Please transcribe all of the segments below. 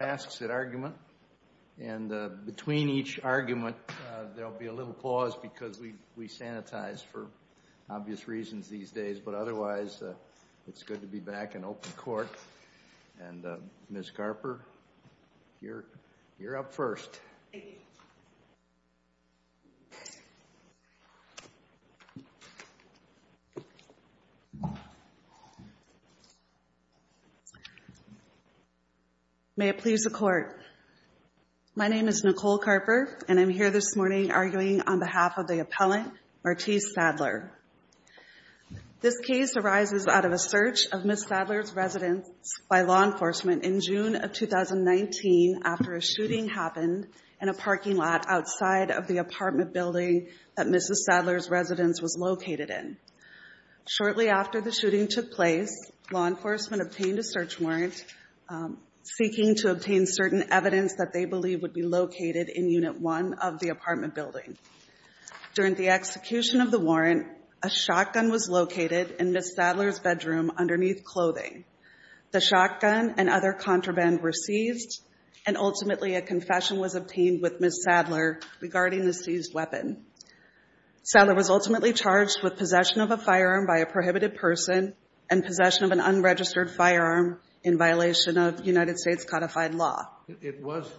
asks an argument. And between each argument, there'll be a little pause because we sanitize for obvious reasons these days. But otherwise, it's good to be back in open court. And Ms. Saddler pleads the court. My name is Nicole Carper, and I'm here this morning arguing on behalf of the appellant, Martece Saddler. This case arises out of a search of Ms. Saddler's residence by law enforcement in June of 2019 after a shooting happened in a parking lot outside of the apartment building that Mrs. Saddler's residence was located in. Shortly after the shooting took place, law enforcement obtained a search warrant seeking to obtain certain evidence that they believed would be located in unit one of the apartment building. During the execution of the warrant, a shotgun was located in Ms. Saddler's bedroom underneath clothing. The shotgun and other contraband were seized, and ultimately a confession was obtained with Ms. Saddler regarding the seized weapon. Saddler was ultimately charged with possession of a firearm by a prohibited person and possession of an unregistered firearm in violation of United States codified law. It was,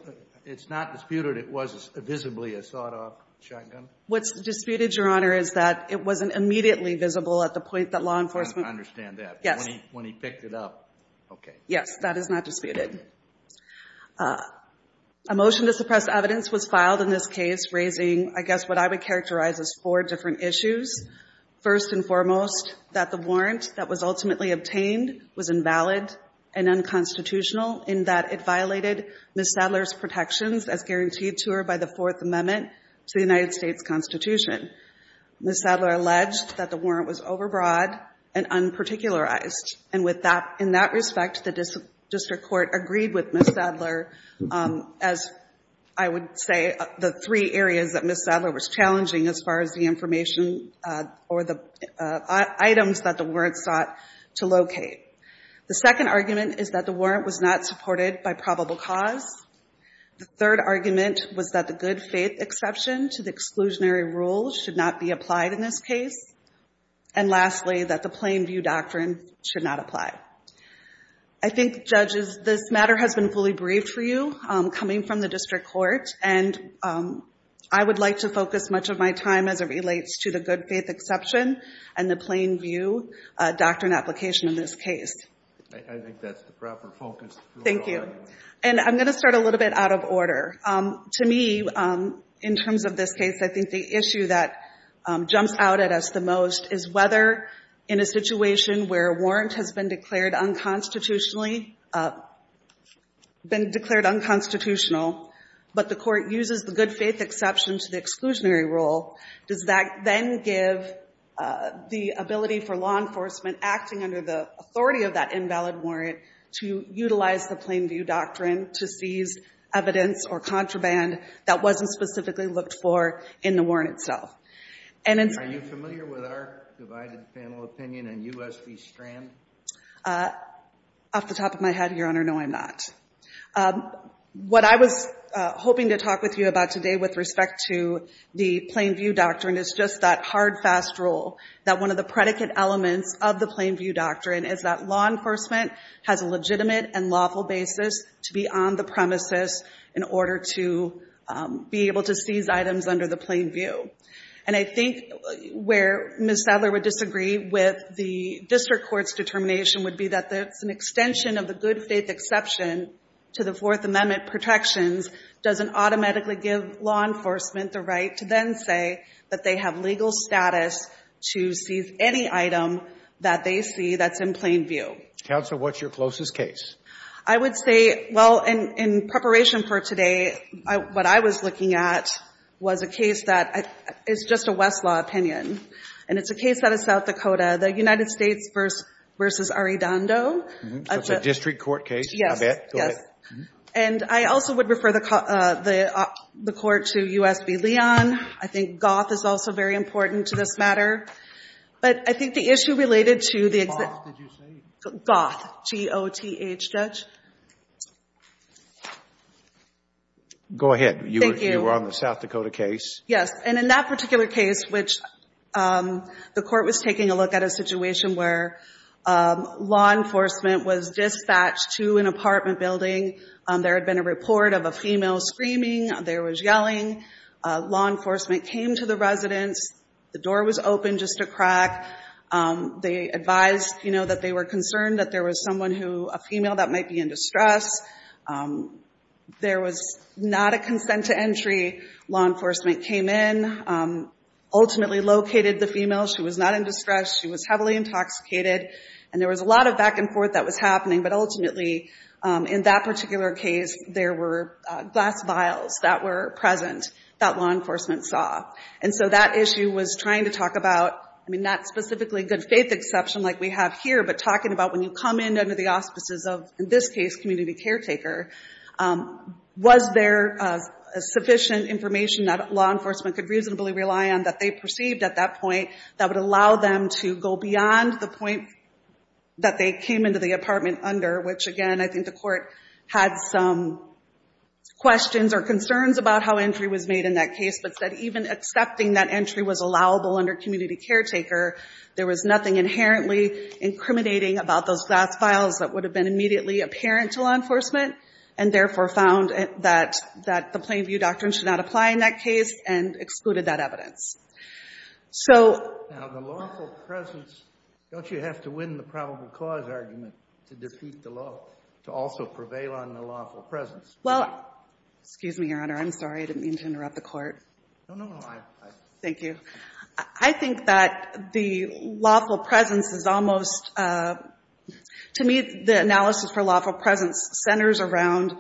it's not disputed it was visibly a sawed-off shotgun? What's disputed, Your Honor, is that it wasn't immediately visible at the point that law enforcement... I understand that. Yes. When he picked it up. Okay. Yes, that is not disputed. A motion to suppress evidence was filed in this case raising, I guess, what I would characterize as four different issues. First and foremost, that the warrant that was ultimately obtained was invalid and unconstitutional in that it violated Ms. Saddler's protections as guaranteed to her by the Fourth Amendment to the United States Constitution. Ms. Saddler alleged that the warrant was overbroad and unparticularized. And with that, in that respect, the district court agreed with Ms. Saddler as, I would say, the three areas that Ms. Saddler was challenging as far as the information or the items that the warrant sought to locate. The second argument is that the warrant was not supported by probable cause. The third argument was that the good faith exception to the exclusionary rule should not be applied in this case. And lastly, that the plain view doctrine should not apply. I think, judges, this matter has been fully briefed for you coming from the district court. And I would like to focus much of my time as it relates to the good faith exception and the plain view doctrine application in this case. I think that's the proper focus. Thank you. And I'm going to start a little bit out of order. To me, in terms of this case, I think the issue that jumps out at us the most is whether, in a situation where a warrant has been declared unconstitutionally but the court uses the good faith exception to the exclusionary rule, does that then give the ability for law enforcement acting under the authority of that invalid warrant to utilize the plain view doctrine to seize evidence or contraband that wasn't specifically looked for in the warrant itself? Are you familiar with our divided panel opinion on U.S. v. Strand? Off the top of my head, Your Honor, no, I'm not. What I was hoping to talk with you about today with respect to the plain view doctrine is just that hard, fast rule that one of the predicate elements of the plain view doctrine is that law enforcement has a legitimate and lawful basis to be on the premises in order to be able to seize items under the plain view. And I think where Ms. Sadler would disagree with the district court determination would be that it's an extension of the good faith exception to the Fourth Amendment protections doesn't automatically give law enforcement the right to then say that they have legal status to seize any item that they see that's in plain view. Counsel, what's your closest case? I would say, well, in preparation for today, what I was looking at was a case that is just a Westlaw opinion. And it's a case out of South Dakota. The United States v. Arredondo. So it's a district court case? Yes. I bet. Go ahead. And I also would refer the court to U.S. v. Leon. I think Goth is also very important to this matter. But I think the issue related to the exception Goth, did you say? Goth, G-O-T-H, Judge. Go ahead. Thank you. You were on the South Dakota case. Yes. And in that particular case, which the court was taking a look at a situation where law enforcement was dispatched to an apartment building. There had been a report of a female screaming. There was yelling. Law enforcement came to the residence. The door was open just a crack. They advised, you know, that they were concerned that there was someone who, a female that might be in distress. There was not a consent to entry. Law enforcement came in, ultimately located the female. She was not in distress. She was heavily intoxicated. And there was a lot of back and forth that was happening. But ultimately, in that particular case, there were glass vials that were present that law enforcement saw. And so that issue was trying to talk about, I mean, not specifically good faith exception like we have here, but talking about when you come in under the auspices of, in this case, community caretaker, was there sufficient information that law enforcement could reasonably rely on that they perceived at that point that would allow them to go beyond the point that they came into the apartment under, which again, I think the court had some questions or concerns about how entry was made in that case, but said even accepting that entry was allowable under community caretaker, there was nothing inherently incriminating about those glass vials that would have been immediately apparent to law enforcement, and therefore found that the Plain View Doctrine should not apply in that case and excluded that evidence. So the lawful presence, don't you have to win the probable cause argument to defeat the law, to also prevail on the lawful presence? Well, excuse me, Your Honor, I'm sorry, I didn't mean to interrupt the court. No, no, no, I'm fine. Thank you. I think that the lawful presence is almost, to me, the analysis for lawful presence centers around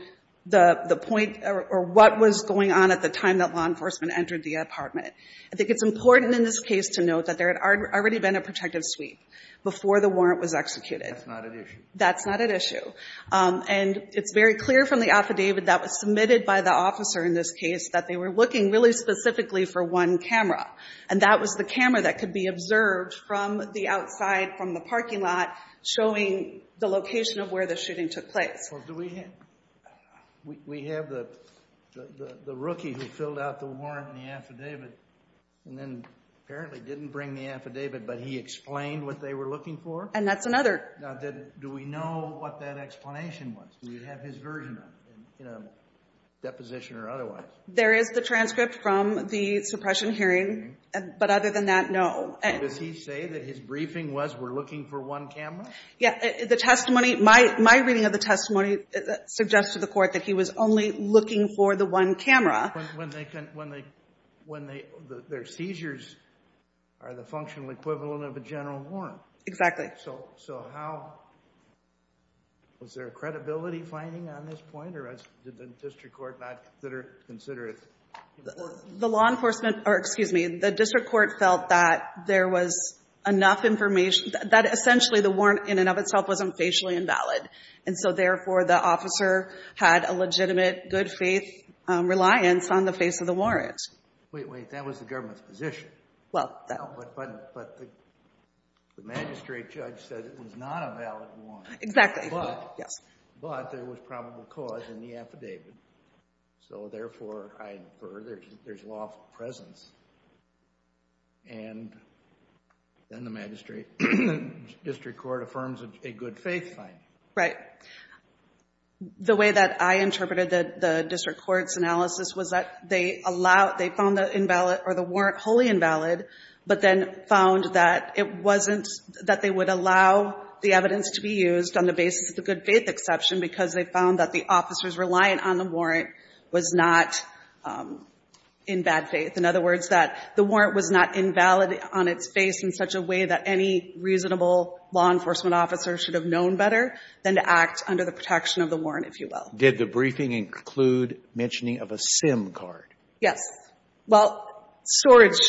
the point or what was going on at the time that law enforcement entered the apartment. I think it's important in this case to note that there had already been a protective suite before the warrant was executed. That's not at issue. That's not at issue. And it's very clear from the affidavit that was submitted by the officer in this case that they were looking really specifically for one camera. And that was the camera that could be observed from the outside, from the parking lot, showing the location of where the shooting took place. Well, do we have the rookie who filled out the warrant and the affidavit, and then apparently didn't bring the affidavit, but he explained what they were looking for? And that's another... Now, do we know what that explanation was? Do we have his version in a deposition or otherwise? There is the transcript from the suppression hearing, but other than that, no. Does he say that his briefing was, we're looking for one camera? Yeah, the testimony, my reading of the testimony suggests to the court that he was only looking for the one camera. When their seizures are the functional equivalent of a general warrant. Exactly. So how, was there a credibility finding on this point? Or did the district court not consider it? The law enforcement, or excuse me, the district court felt that there was enough information, that essentially the warrant in and of itself wasn't facially invalid. And so therefore, the officer had a legitimate good faith reliance on the face of the warrant. Wait, wait, that was the government's position. But the magistrate judge said it was not a valid warrant. Exactly. But there was probable cause in the affidavit. So therefore, I infer there's lawful presence. And then the magistrate, district court affirms a good faith finding. Right. The way that I interpreted the district court's analysis was that they found the warrant wholly invalid. But then found that it wasn't, that they would allow the evidence to be used on the basis of the good faith exception. Because they found that the officer's reliance on the warrant was not in bad faith. In other words, that the warrant was not invalid on its face in such a way that any reasonable law enforcement officer should have known better. Than to act under the protection of the warrant, if you will. Did the briefing include mentioning of a SIM card? Yes. Well, storage.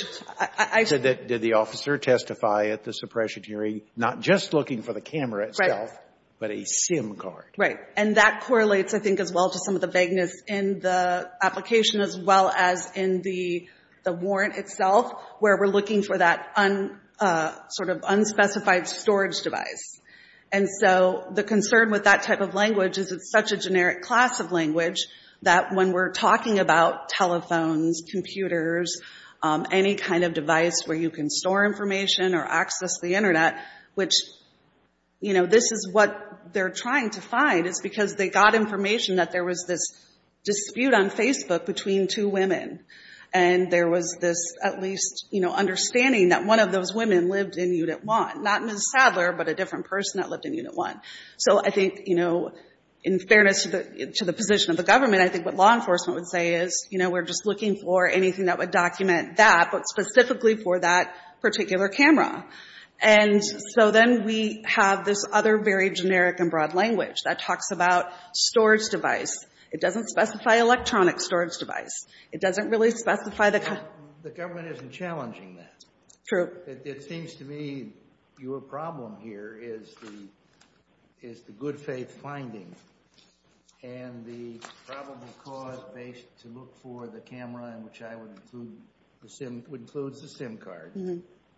Did the officer testify at the suppression hearing not just looking for the camera itself, but a SIM card? Right. And that correlates, I think, as well to some of the vagueness in the application, as well as in the warrant itself. Where we're looking for that unspecified storage device. And so, the concern with that type of language is it's such a generic class of language. That when we're talking about telephones, computers, any kind of device where you can store information or access the internet. Which, you know, this is what they're trying to find. Is because they got information that there was this dispute on Facebook between two women. And there was this, at least, you know, understanding that one of those women lived in Unit 1. Not Ms. Sadler, but a different person that lived in Unit 1. So, I think, you know, in fairness to the position of the government. I think what law enforcement would say is, you know, we're just looking for anything that would document that. But specifically for that particular camera. And so, then we have this other very generic and broad language that talks about storage device. It doesn't specify electronic storage device. It doesn't really specify the... The government isn't challenging that. True. It seems to me your problem here is the good faith finding. And the probable cause to look for the camera in which I would include the SIM card.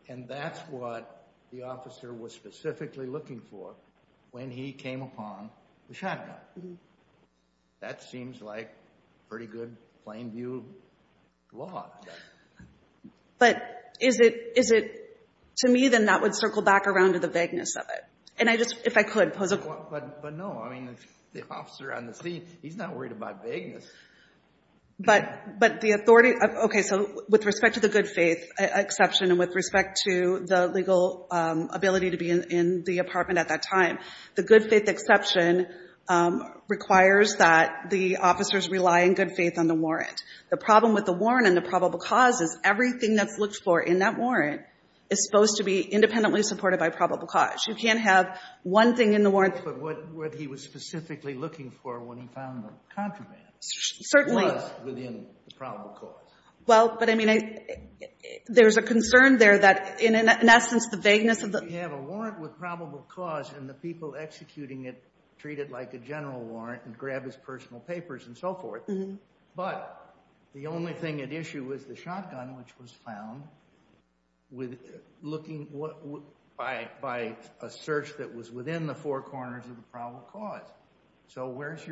And that's what the officer was specifically looking for when he came upon the shotgun. That seems like pretty good plain view law. But is it, to me, then that would circle back around to the vagueness of it. And I just, if I could, pose a question. But no, I mean, the officer on the scene, he's not worried about vagueness. But the authority, okay, so with respect to the good faith exception. And with respect to the legal ability to be in the apartment at that time. The good faith exception requires that the officers rely in good faith on the warrant. The problem with the warrant and the probable cause is everything that's looked for in that warrant is supposed to be independently supported by probable cause. You can't have one thing in the warrant... But what he was specifically looking for when he found the contraband. Certainly. Was within the probable cause. Well, but I mean, there's a concern there that in an essence the vagueness of the... You have a warrant with probable cause and the people executing it treat it like a general warrant and grab his personal papers and so forth. But the only thing at issue is the shotgun, which was found by a search that was within the four corners of the probable cause. So where's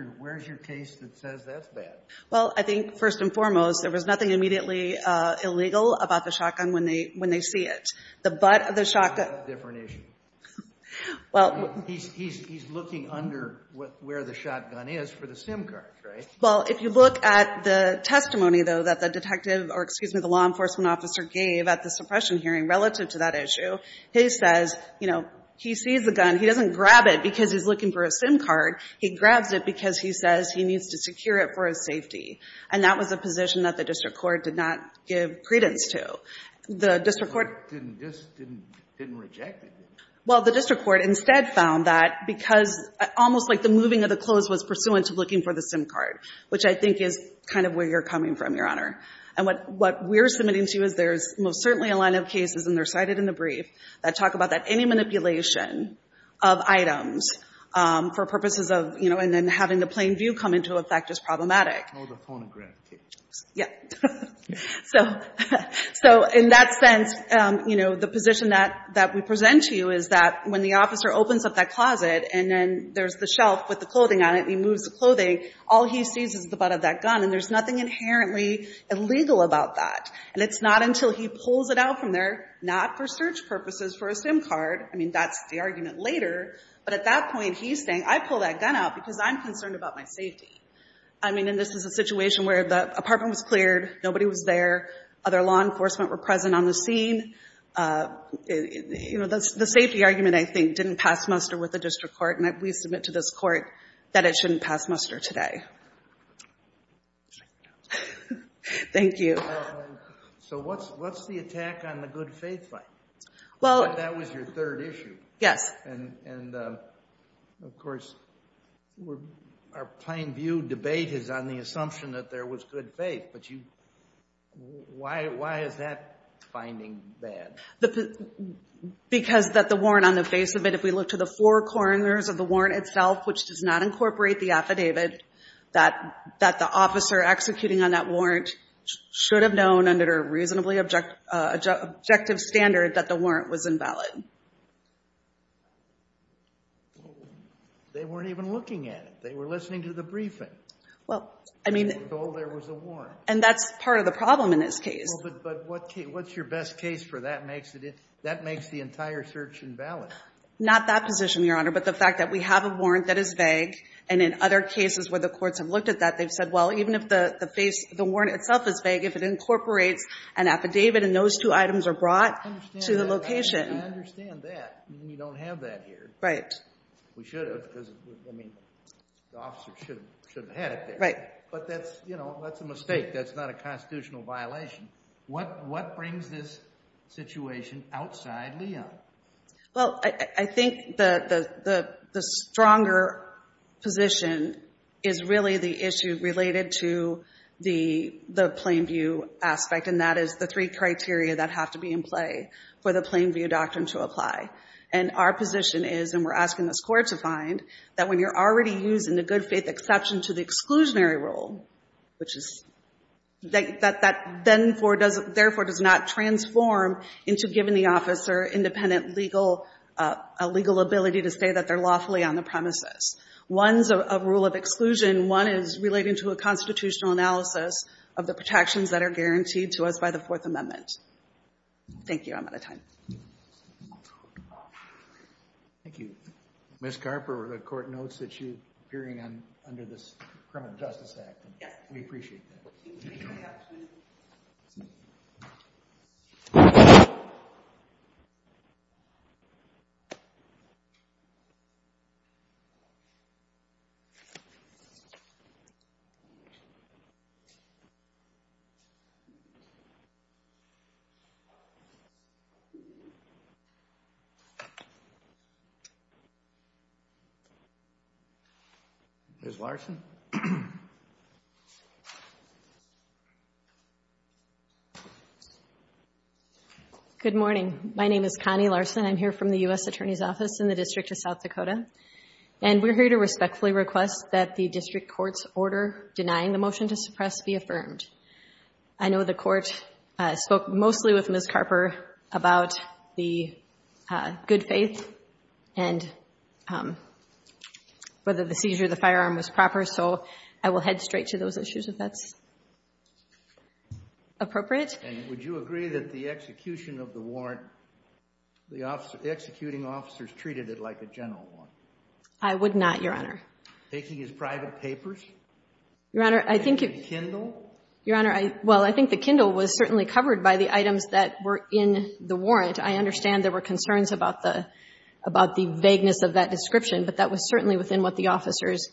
your case that says that's bad? Well, I think first and foremost, there was nothing immediately illegal about the shotgun when they see it. The butt of the shotgun... That's a different issue. He's looking under where the shotgun is for the SIM cards, right? Well, if you look at the testimony, though, that the detective or, excuse me, the law enforcement officer gave at the suppression hearing relative to that issue, he says, you know, he sees the gun. He doesn't grab it because he's looking for a SIM card. He grabs it because he says he needs to secure it for his safety. And that was a position that the district court did not give credence to. The district court... Didn't reject it. Well, the district court instead found that because almost like the moving of the clothes was pursuant to looking for the SIM card, which I think is kind of where you're coming from, Your Honor. And what we're submitting to you is there's most certainly a line of cases, and they're cited in the brief, that talk about that any manipulation of items for purposes of, you know, and then having the plain view come into effect is problematic. Oh, the phonograph case. Yeah. So in that sense, you know, the position that we present to you is that when the officer opens up that closet and then there's the shelf with the clothing on it and he moves the clothing, all he sees is the butt of that gun. And there's nothing inherently illegal about that. And it's not until he pulls it out from there, not for search purposes for a SIM card, I mean, that's the argument later. But at that point, he's saying, I pulled that gun out because I'm concerned about my safety. I mean, and this is a situation where the apartment was cleared. Nobody was there. Other law enforcement were present on the scene. You know, the safety argument, I think, didn't pass muster with the district court. And we submit to this court that it shouldn't pass muster today. Thank you. So what's the attack on the good faith fight? Well. That was your third issue. Yes. And, of course, our plain view debate is on the assumption that there was good faith. But why is that finding bad? Because that the warrant on the face of it, if we look to the four corners of the warrant itself, which does not incorporate the affidavit, that the officer executing on that warrant should have known under a reasonably objective standard that the warrant was invalid. Well, they weren't even looking at it. They were listening to the briefing. Well, I mean. Although there was a warrant. And that's part of the problem in this case. But what's your best case for that makes the entire search invalid? Not that position, Your Honor, but the fact that we have a warrant that is vague. And in other cases where the courts have looked at that, they've said, well, even if the face, the warrant itself is vague, if it incorporates an affidavit and those two items are brought to the location. I understand that. We don't have that here. Right. We should have. Because, I mean, the officer should have had it there. Right. But that's a mistake. That's not a constitutional violation. What brings this situation outside Leon? Well, I think the stronger position is really the issue related to the plain view aspect. And that is the three criteria that have to be in play for the plain view doctrine to apply. And our position is, and we're asking this Court to find, that when you're already using the good faith exception to the exclusionary rule, which is, that therefore does not transform into giving the officer independent legal, a legal ability to say that they're lawfully on the premises. One's a rule of exclusion. One is relating to a constitutional analysis of the protections that are guaranteed to us by the Fourth Amendment. Thank you. I'm out of time. Thank you. Ms. Carper, the Court notes that you're appearing under this Criminal Justice Act. Yes. We appreciate that. Thank you. Ms. Larson. Good morning. My name is Connie Larson. I'm here from the U.S. Attorney's Office in the District of South Dakota. And we're here to respectfully request that the District Court's order denying the motion to suppress be affirmed. I know the Court spoke mostly with Ms. Carper about the good faith and whether the seizure of the firearm was proper. So I will head straight to those issues, if that's appropriate. And would you agree that the execution of the warrant, the executing officers treated it like a general warrant? I would not, Your Honor. Taking his private papers? Your Honor, I think it was. The Kindle? Your Honor, well, I think the Kindle was certainly covered by the items that were in the warrant. I understand there were concerns about the vagueness of that description, but that was certainly within what the officers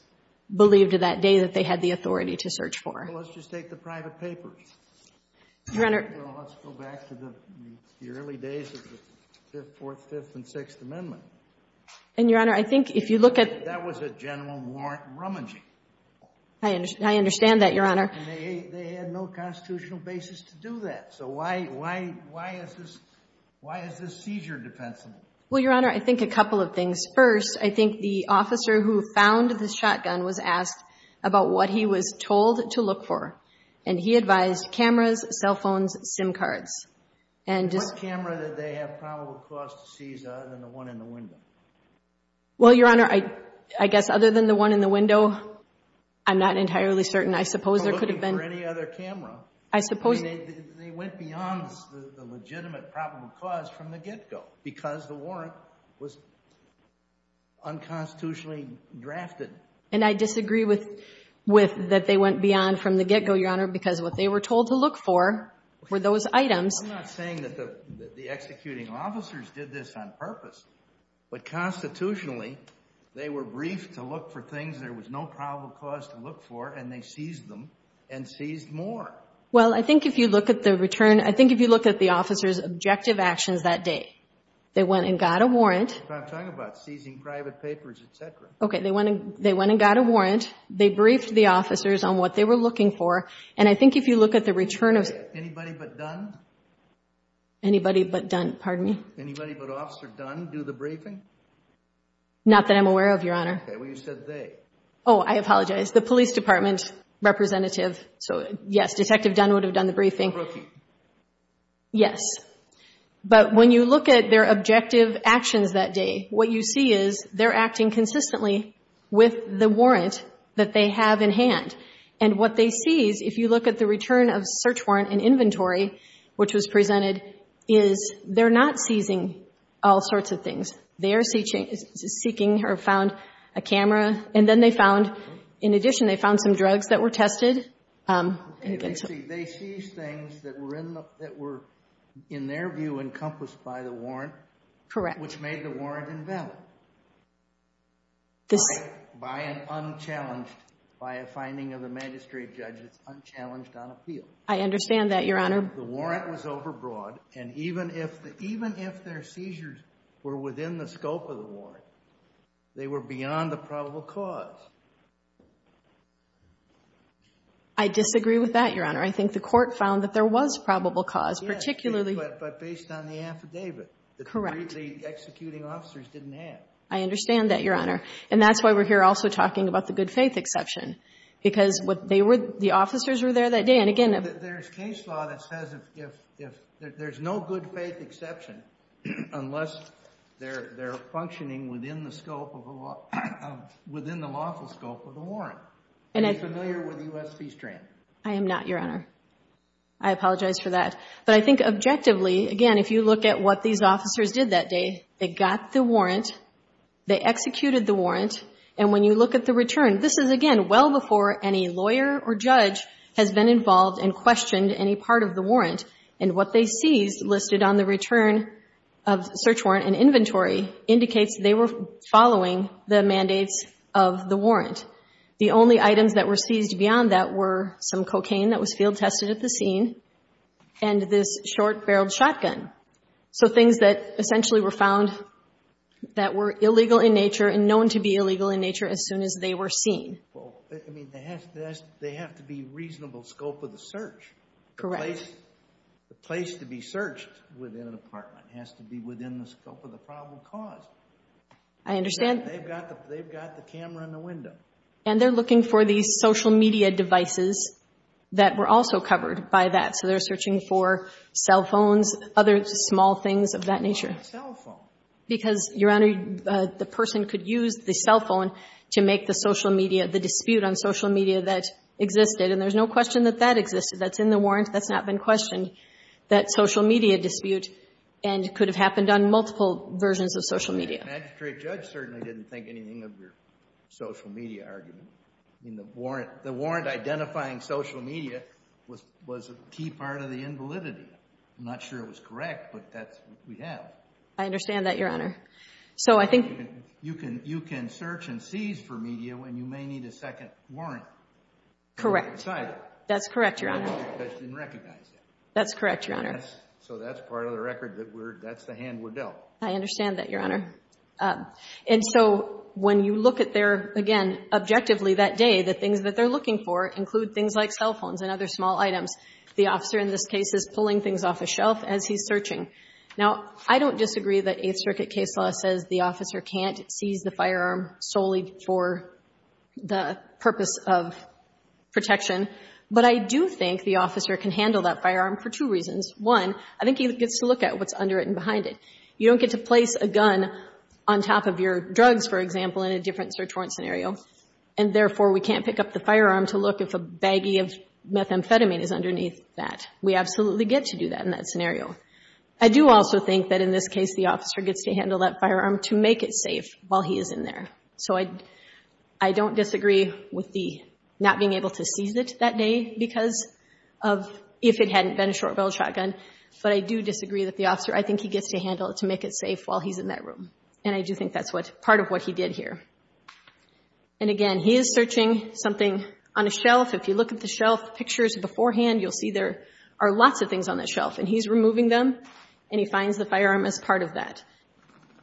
believed that day that they had the authority to search for. Well, let's just take the private papers. Your Honor. Well, let's go back to the early days of the Fifth, Fourth, Fifth, and Sixth Amendments. And, Your Honor, I think if you look at the private papers. That was a general warrant rummaging. I understand that, Your Honor. And they had no constitutional basis to do that. So why is this seizure defensible? Well, Your Honor, I think a couple of things. First, I think the officer who found the shotgun was asked about what he was told to look for. And he advised cameras, cell phones, SIM cards. And what camera did they have probable cause to seize other than the one in the window? Well, Your Honor, I guess other than the one in the window, I'm not entirely certain. I suppose there could have been. Or looking for any other camera. I suppose. They went beyond the legitimate probable cause from the get-go because the warrant was unconstitutionally drafted. And I disagree with that they went beyond from the get-go, Your Honor, because what they were told to look for were those items. I'm not saying that the executing officers did this on purpose. But constitutionally, they were briefed to look for things there was no probable cause to look for. And they seized them and seized more. Well, I think if you look at the return, I think if you look at the officers' objective actions that day, they went and got a warrant. I'm talking about seizing private papers, et cetera. Okay. They went and got a warrant. They briefed the officers on what they were looking for. And I think if you look at the return of... Anybody but Dunn? Anybody but Dunn. Pardon me? Anybody but Officer Dunn do the briefing? Not that I'm aware of, Your Honor. Okay. Well, you said they. Oh, I apologize. The police department representative. So, yes, Detective Dunn would have done the briefing. Or Rookie. Yes. But when you look at their objective actions that day, what you see is they're acting consistently with the warrant that they have in hand. And what they seize, if you look at the return of search warrant and inventory, which was presented, is they're not seizing all sorts of things. They are seeking or found a camera. And then they found... In addition, they found some drugs that were tested. They seized things that were in their view encompassed by the warrant. Correct. Which made the warrant invalid. This... By an unchallenged... By a finding of the magistrate judge, it's unchallenged on appeal. I understand that, Your Honor. The warrant was overbroad. And even if their seizures were within the scope of the warrant, they were beyond a probable cause. I disagree with that, Your Honor. I think the court found that there was probable cause, particularly... Yes, but based on the affidavit. Correct. Which the executing officers didn't have. I understand that, Your Honor. And that's why we're here also talking about the good faith exception. Because the officers were there that day. And again... There's case law that says there's no good faith exception unless they're functioning within the lawful scope of the warrant. Are you familiar with the U.S. Fees Trant? I am not, Your Honor. I apologize for that. But I think objectively, again, if you look at what these officers did that day, they got the warrant. They executed the warrant. And when you look at the return, this is, again, well before any lawyer or judge has been involved and questioned any part of the warrant. And what they seized listed on the return of search warrant and inventory indicates they were following the mandates of the warrant. The only items that were seized beyond that were some cocaine that was field tested at the scene. And this short barreled shotgun. So things that essentially were found that were illegal in nature and known to be illegal in nature as soon as they were seen. Well, I mean, they have to be reasonable scope of the search. Correct. The place to be searched within an apartment has to be within the scope of the probable cause. They've got the camera in the window. And they're looking for these social media devices that were also covered by that. So they're searching for cell phones, other small things of that nature. Why a cell phone? Because, Your Honor, the person could use the cell phone to make the social media, the dispute on social media that existed. And there's no question that that existed. That's in the warrant. That's not been questioned, that social media dispute. And it could have happened on multiple versions of social media. The magistrate judge certainly didn't think anything of your social media argument. I mean, the warrant identifying social media was a key part of the invalidity. I'm not sure it was correct, but that's what we have. I understand that, Your Honor. You can search and seize for media when you may need a second warrant. Correct. That's correct, Your Honor. The magistrate judge didn't recognize that. That's correct, Your Honor. So that's part of the record that we're, that's the hand we're dealt. I understand that, Your Honor. And so when you look at their, again, objectively that day, the things that they're looking for include things like cell phones and other small items. The officer in this case is pulling things off a shelf as he's searching. Now, I don't disagree that Eighth Circuit case law says the officer can't seize the firearm solely for the purpose of protection. But I do think the officer can handle that firearm for two reasons. One, I think he gets to look at what's under it and behind it. You don't get to place a gun on top of your drugs, for example, in a different search warrant scenario. And therefore, we can't pick up the firearm to look if a baggie of methamphetamine is underneath that. We absolutely get to do that in that scenario. I do also think that in this case the officer gets to handle that firearm to make it safe while he is in there. So I don't disagree with the not being able to seize it that day because of if it hadn't been a short-barreled shotgun. But I do disagree that the officer, I think he gets to handle it to make it safe while he's in that room. And I do think that's part of what he did here. And again, he is searching something on a shelf. If you look at the shelf pictures beforehand, you'll see there are lots of things on that shelf. And he's removing them, and he finds the firearm as part of that.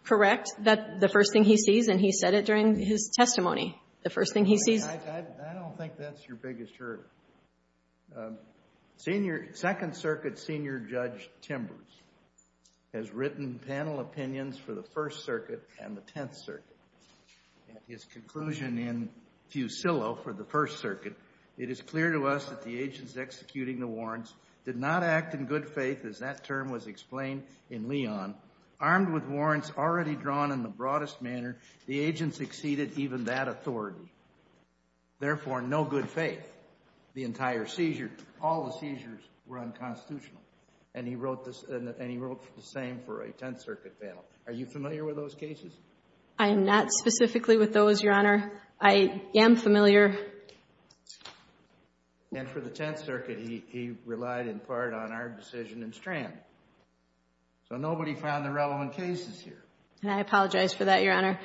Correct? That's the first thing he sees, and he said it during his testimony, the first thing he sees. I don't think that's your biggest hurdle. Second Circuit Senior Judge Timbers has written panel opinions for the First Circuit and the Tenth Circuit. At his conclusion in Fusillo for the First Circuit, it is clear to us that the agents executing the warrants did not act in good faith, as that term was explained in Leon. Armed with warrants already drawn in the broadest manner, the agents exceeded even that authority. Therefore, no good faith. The entire seizure, all the seizures were unconstitutional. And he wrote the same for a Tenth Circuit panel. Are you familiar with those cases? I am not specifically with those, Your Honor. I am familiar. And for the Tenth Circuit, he relied in part on our decision in Strand. So nobody found the relevant cases here. And I apologize for that, Your Honor.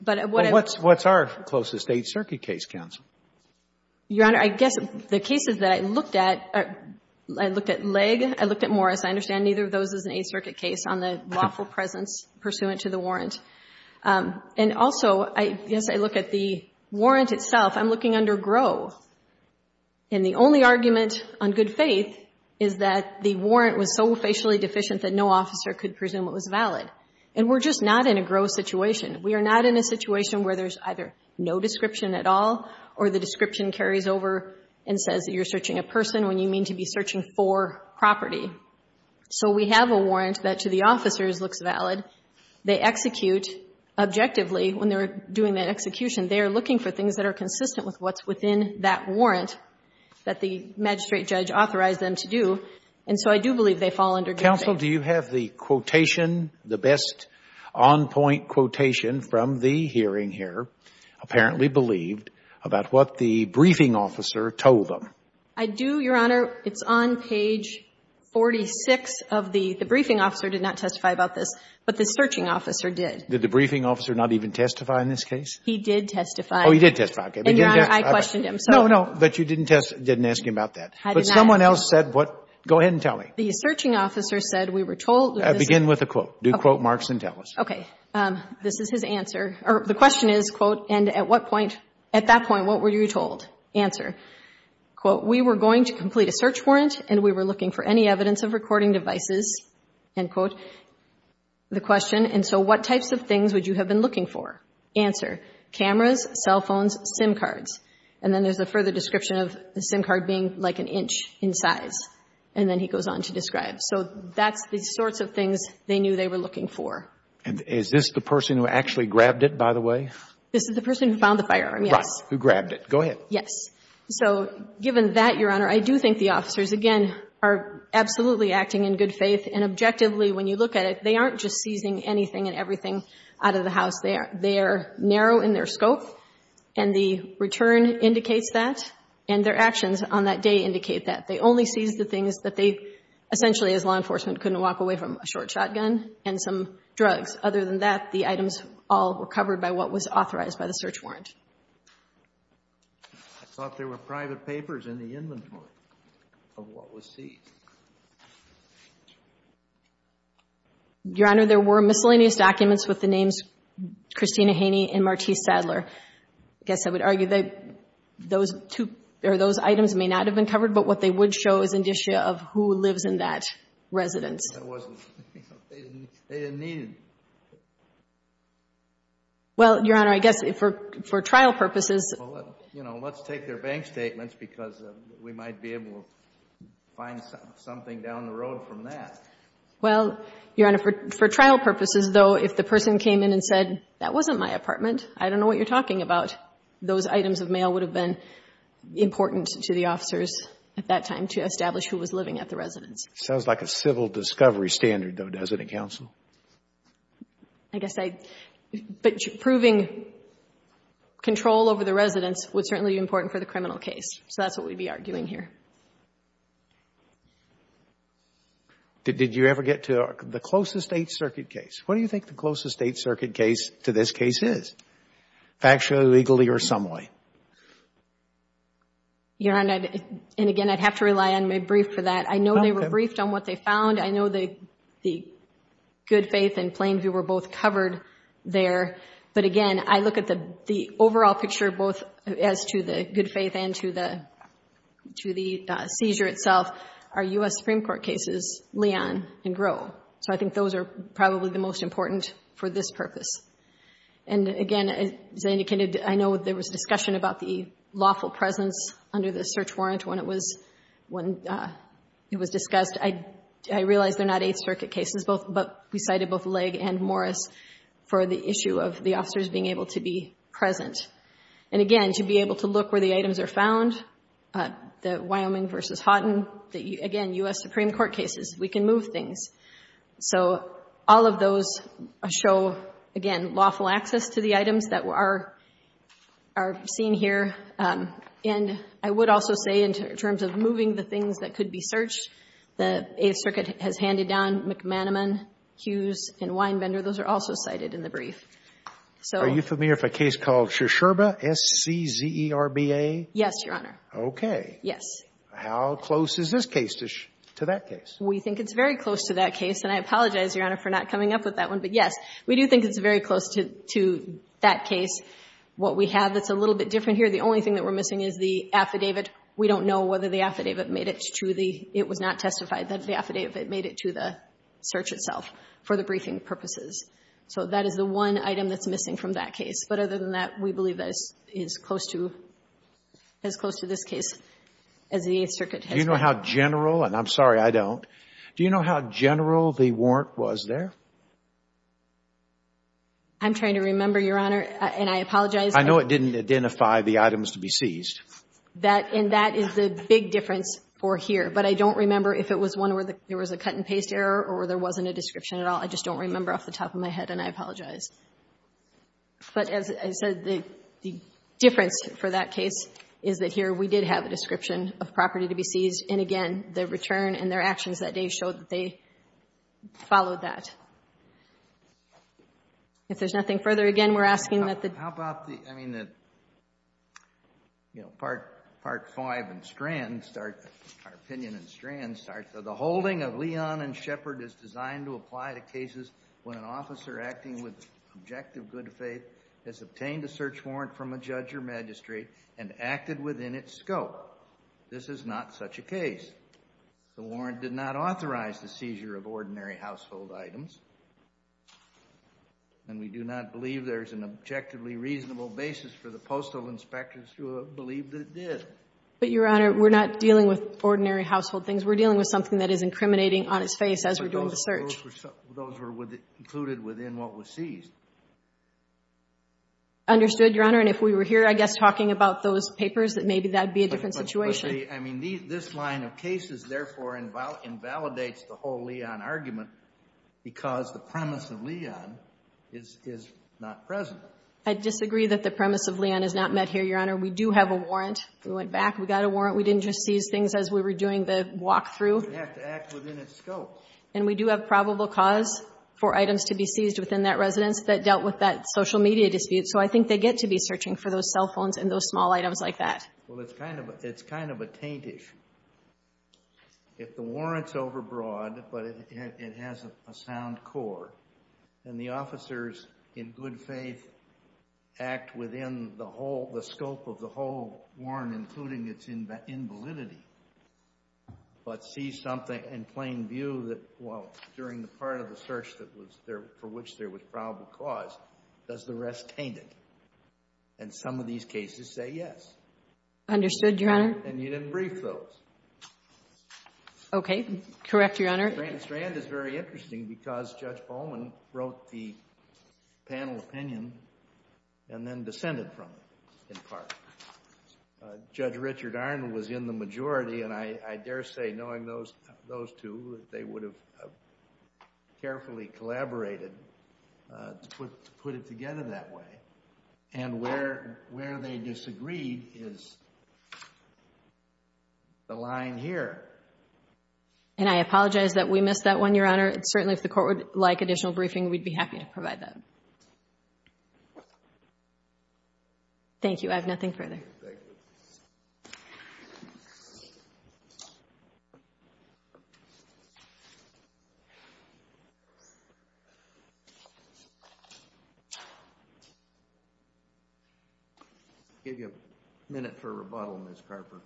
But what I've... Well, what's our closest Eighth Circuit case, counsel? Your Honor, I guess the cases that I looked at, I looked at Legg, I looked at Morris. I understand neither of those is an Eighth Circuit case on the lawful presence pursuant to the warrant. And also, as I look at the warrant itself, I'm looking under Gros. And the only argument on good faith is that the warrant was so facially deficient that no officer could presume it was valid. And we're just not in a Gros situation. We are not in a situation where there's either no description at all, or the description carries over and says that you're searching a person when you mean to be searching for property. So we have a warrant that to the officers looks valid. They execute objectively when they're doing that execution. They are looking for things that are consistent with what's within that warrant that the magistrate judge authorized them to do. And so I do believe they fall under good faith. Counsel, do you have the quotation, the best on-point quotation from the hearing here, apparently believed, about what the briefing officer told them? I do, Your Honor. It's on page 46 of the — the briefing officer did not testify about this. But the searching officer did. Did the briefing officer not even testify in this case? He did testify. Oh, he did testify. And, Your Honor, I questioned him, so. No, no. But you didn't ask him about that. I did not. But someone else said what — go ahead and tell me. The searching officer said we were told — Begin with a quote. Do quote marks and tell us. Okay. This is his answer. The question is, quote, and at what point — at that point, what were you told? Answer. Quote, we were going to complete a search warrant, and we were looking for any evidence of recording devices, end quote. The question, and so what types of things would you have been looking for? Answer. Cameras, cell phones, SIM cards. And then there's a further description of the SIM card being like an inch in size. And then he goes on to describe. So that's the sorts of things they knew they were looking for. And is this the person who actually grabbed it, by the way? This is the person who found the firearm, yes. Right. Who grabbed it. Go ahead. Yes. So given that, Your Honor, I do think the officers, again, are absolutely acting in good faith. And objectively, when you look at it, they aren't just seizing anything and everything out of the house. They are narrow in their scope. And the return indicates that. And their actions on that day indicate that. They only seized the things that they essentially, as law enforcement, couldn't walk away from, a short shotgun and some drugs. Other than that, the items all were covered by what was authorized by the search warrant. I thought there were private papers in the inventory of what was seized. Your Honor, there were miscellaneous documents with the names Christina Haney and Martise Sadler. I guess I would argue that those two or those items may not have been covered. But what they would show is indicia of who lives in that residence. That wasn't. They didn't need it. Well, Your Honor, I guess for trial purposes. You know, let's take their bank statements because we might be able to find something down the road from that. Well, Your Honor, for trial purposes, though, if the person came in and said, that wasn't my apartment, I don't know what you're talking about, those items of mail would have been important to the officers at that time to establish who was living at the residence. Sounds like a civil discovery standard, though, doesn't it, counsel? I guess I, but proving control over the residence would certainly be important for the criminal case. So that's what we'd be arguing here. Did you ever get to the closest state circuit case? What do you think the closest state circuit case to this case is? Factually, legally, or some way? Your Honor, and again, I'd have to rely on my brief for that. I know they were briefed on what they found. I know the good faith and plain view were both covered there. But again, I look at the overall picture, both as to the good faith and to the seizure itself, are U.S. Supreme Court cases, Leon and Groh. So I think those are probably the most important for this purpose. And again, as I indicated, I know there was discussion about the lawful presence under the search warrant when it was discussed. I realize they're not eighth circuit cases, but we cited both Legg and Morris for the issue of the officers being able to be present. And again, to be able to look where the items are found, the Wyoming v. Houghton, again, U.S. Supreme Court cases, we can move things. So all of those show, again, lawful access to the items that are seen here. And I would also say in terms of moving the things that could be searched, the eighth circuit has handed down McManaman, Hughes, and Weinbender. Those are also cited in the brief. So you familiar with a case called Shcherba, S-C-Z-E-R-B-A? Yes, Your Honor. Okay. Yes. How close is this case to that case? We think it's very close to that case. And I apologize, Your Honor, for not coming up with that one. But yes, we do think it's very close to that case. What we have that's a little bit different here, the only thing that we're missing is the affidavit. We don't know whether the affidavit made it to the – it was not testified that the affidavit made it to the search itself for the briefing purposes. So that is the one item that's missing from that case. But other than that, we believe that it's close to – as close to this case as the eighth circuit has. Do you know how general – and I'm sorry, I don't. Do you know how general the warrant was there? I'm trying to remember, Your Honor, and I apologize. I know it didn't identify the items to be seized. And that is the big difference for here. But I don't remember if it was one where there was a cut-and-paste error or there wasn't a description at all. I just don't remember off the top of my head, and I apologize. But as I said, the difference for that case is that here we did have a description of property to be seized. And, again, the return and their actions that day showed that they followed that. If there's nothing further, again, we're asking that the – How about the – I mean the – you know, Part 5 and Strand start – our opinion in Strand starts, the holding of Leon and Shepherd is designed to apply to cases when an officer acting with objective good faith has obtained a search warrant from a judge or magistrate and acted within its scope. This is not such a case. The warrant did not authorize the seizure of ordinary household items. And we do not believe there is an objectively reasonable basis for the postal inspectors to believe that it did. But, Your Honor, we're not dealing with ordinary household things. We're dealing with something that is incriminating on its face as we're doing the search. Those were included within what was seized. Understood, Your Honor. And if we were here, I guess, talking about those papers, that maybe that would be a different situation. I mean, this line of cases, therefore, invalidates the whole Leon argument because the premise of Leon is not present. I disagree that the premise of Leon is not met here, Your Honor. We do have a warrant. We went back. We got a warrant. We didn't just seize things as we were doing the walk-through. It would have to act within its scope. And we do have probable cause for items to be seized within that residence that dealt with that social media dispute. So I think they get to be searching for those cell phones and those small items like that. Well, it's kind of a taint issue. If the warrant's overbroad but it has a sound core and the officers, in good faith, act within the scope of the whole warrant, including its invalidity, but see something in plain view that, well, during the part of the search for which there was probable cause, does the rest taint it? And some of these cases say yes. Understood, Your Honor. And you didn't brief those. Okay. Correct, Your Honor. Strand is very interesting because Judge Bowman wrote the panel opinion and then descended from it in part. Judge Richard Arnold was in the majority, and I dare say knowing those two that they would have carefully collaborated to put it together that way. And where they disagreed is the line here. And I apologize that we missed that one, Your Honor. Certainly, if the court would like additional briefing, we'd be happy to provide that. Thank you. I have nothing further. Thank you. I'll give you a minute for rebuttal, Ms. Carper.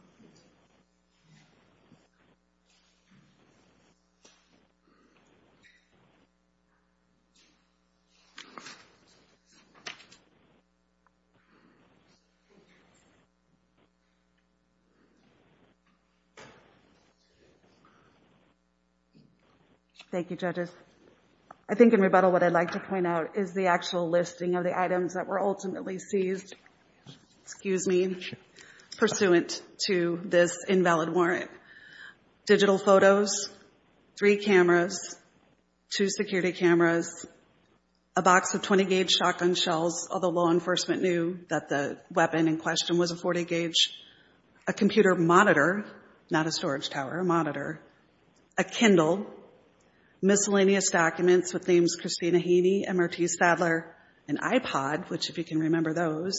Thank you, judges. I think in rebuttal what I'd like to point out is the actual listing of the items that were ultimately seized pursuant to this invalid warrant. Digital photos, three cameras, two security cameras, a box of 20-gauge shotgun shells, although law enforcement knew that the weapon in question was a 40-gauge, a computer monitor, not a storage tower, a monitor, a Kindle, miscellaneous documents with names Christina Haney, and Martiz Sadler, an iPod, which if you can remember those,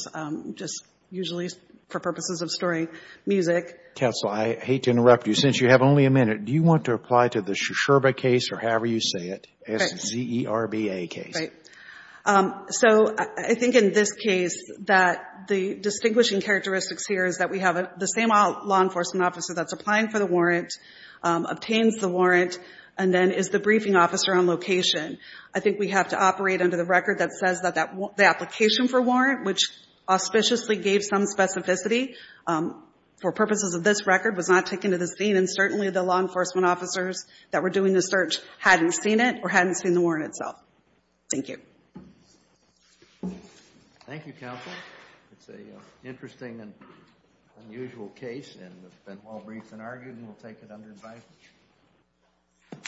just usually for purposes of storing music. Counsel, I hate to interrupt you. Since you have only a minute, do you want to apply to the Shcherba case or however you say it, S-Z-E-R-B-A case? Right. So I think in this case that the distinguishing characteristics here is that we have the same law enforcement officer that's applying for the warrant, obtains the warrant, and then is the briefing officer on location. I think we have to operate under the record that says that the application for warrant, which auspiciously gave some specificity for purposes of this record, was not taken to the scene, and certainly the law enforcement officers that were doing the search hadn't seen it or hadn't seen the warrant itself. Thank you. Thank you, counsel. It's an interesting and unusual case, and it's been well-briefed and argued, and we'll take it under advice.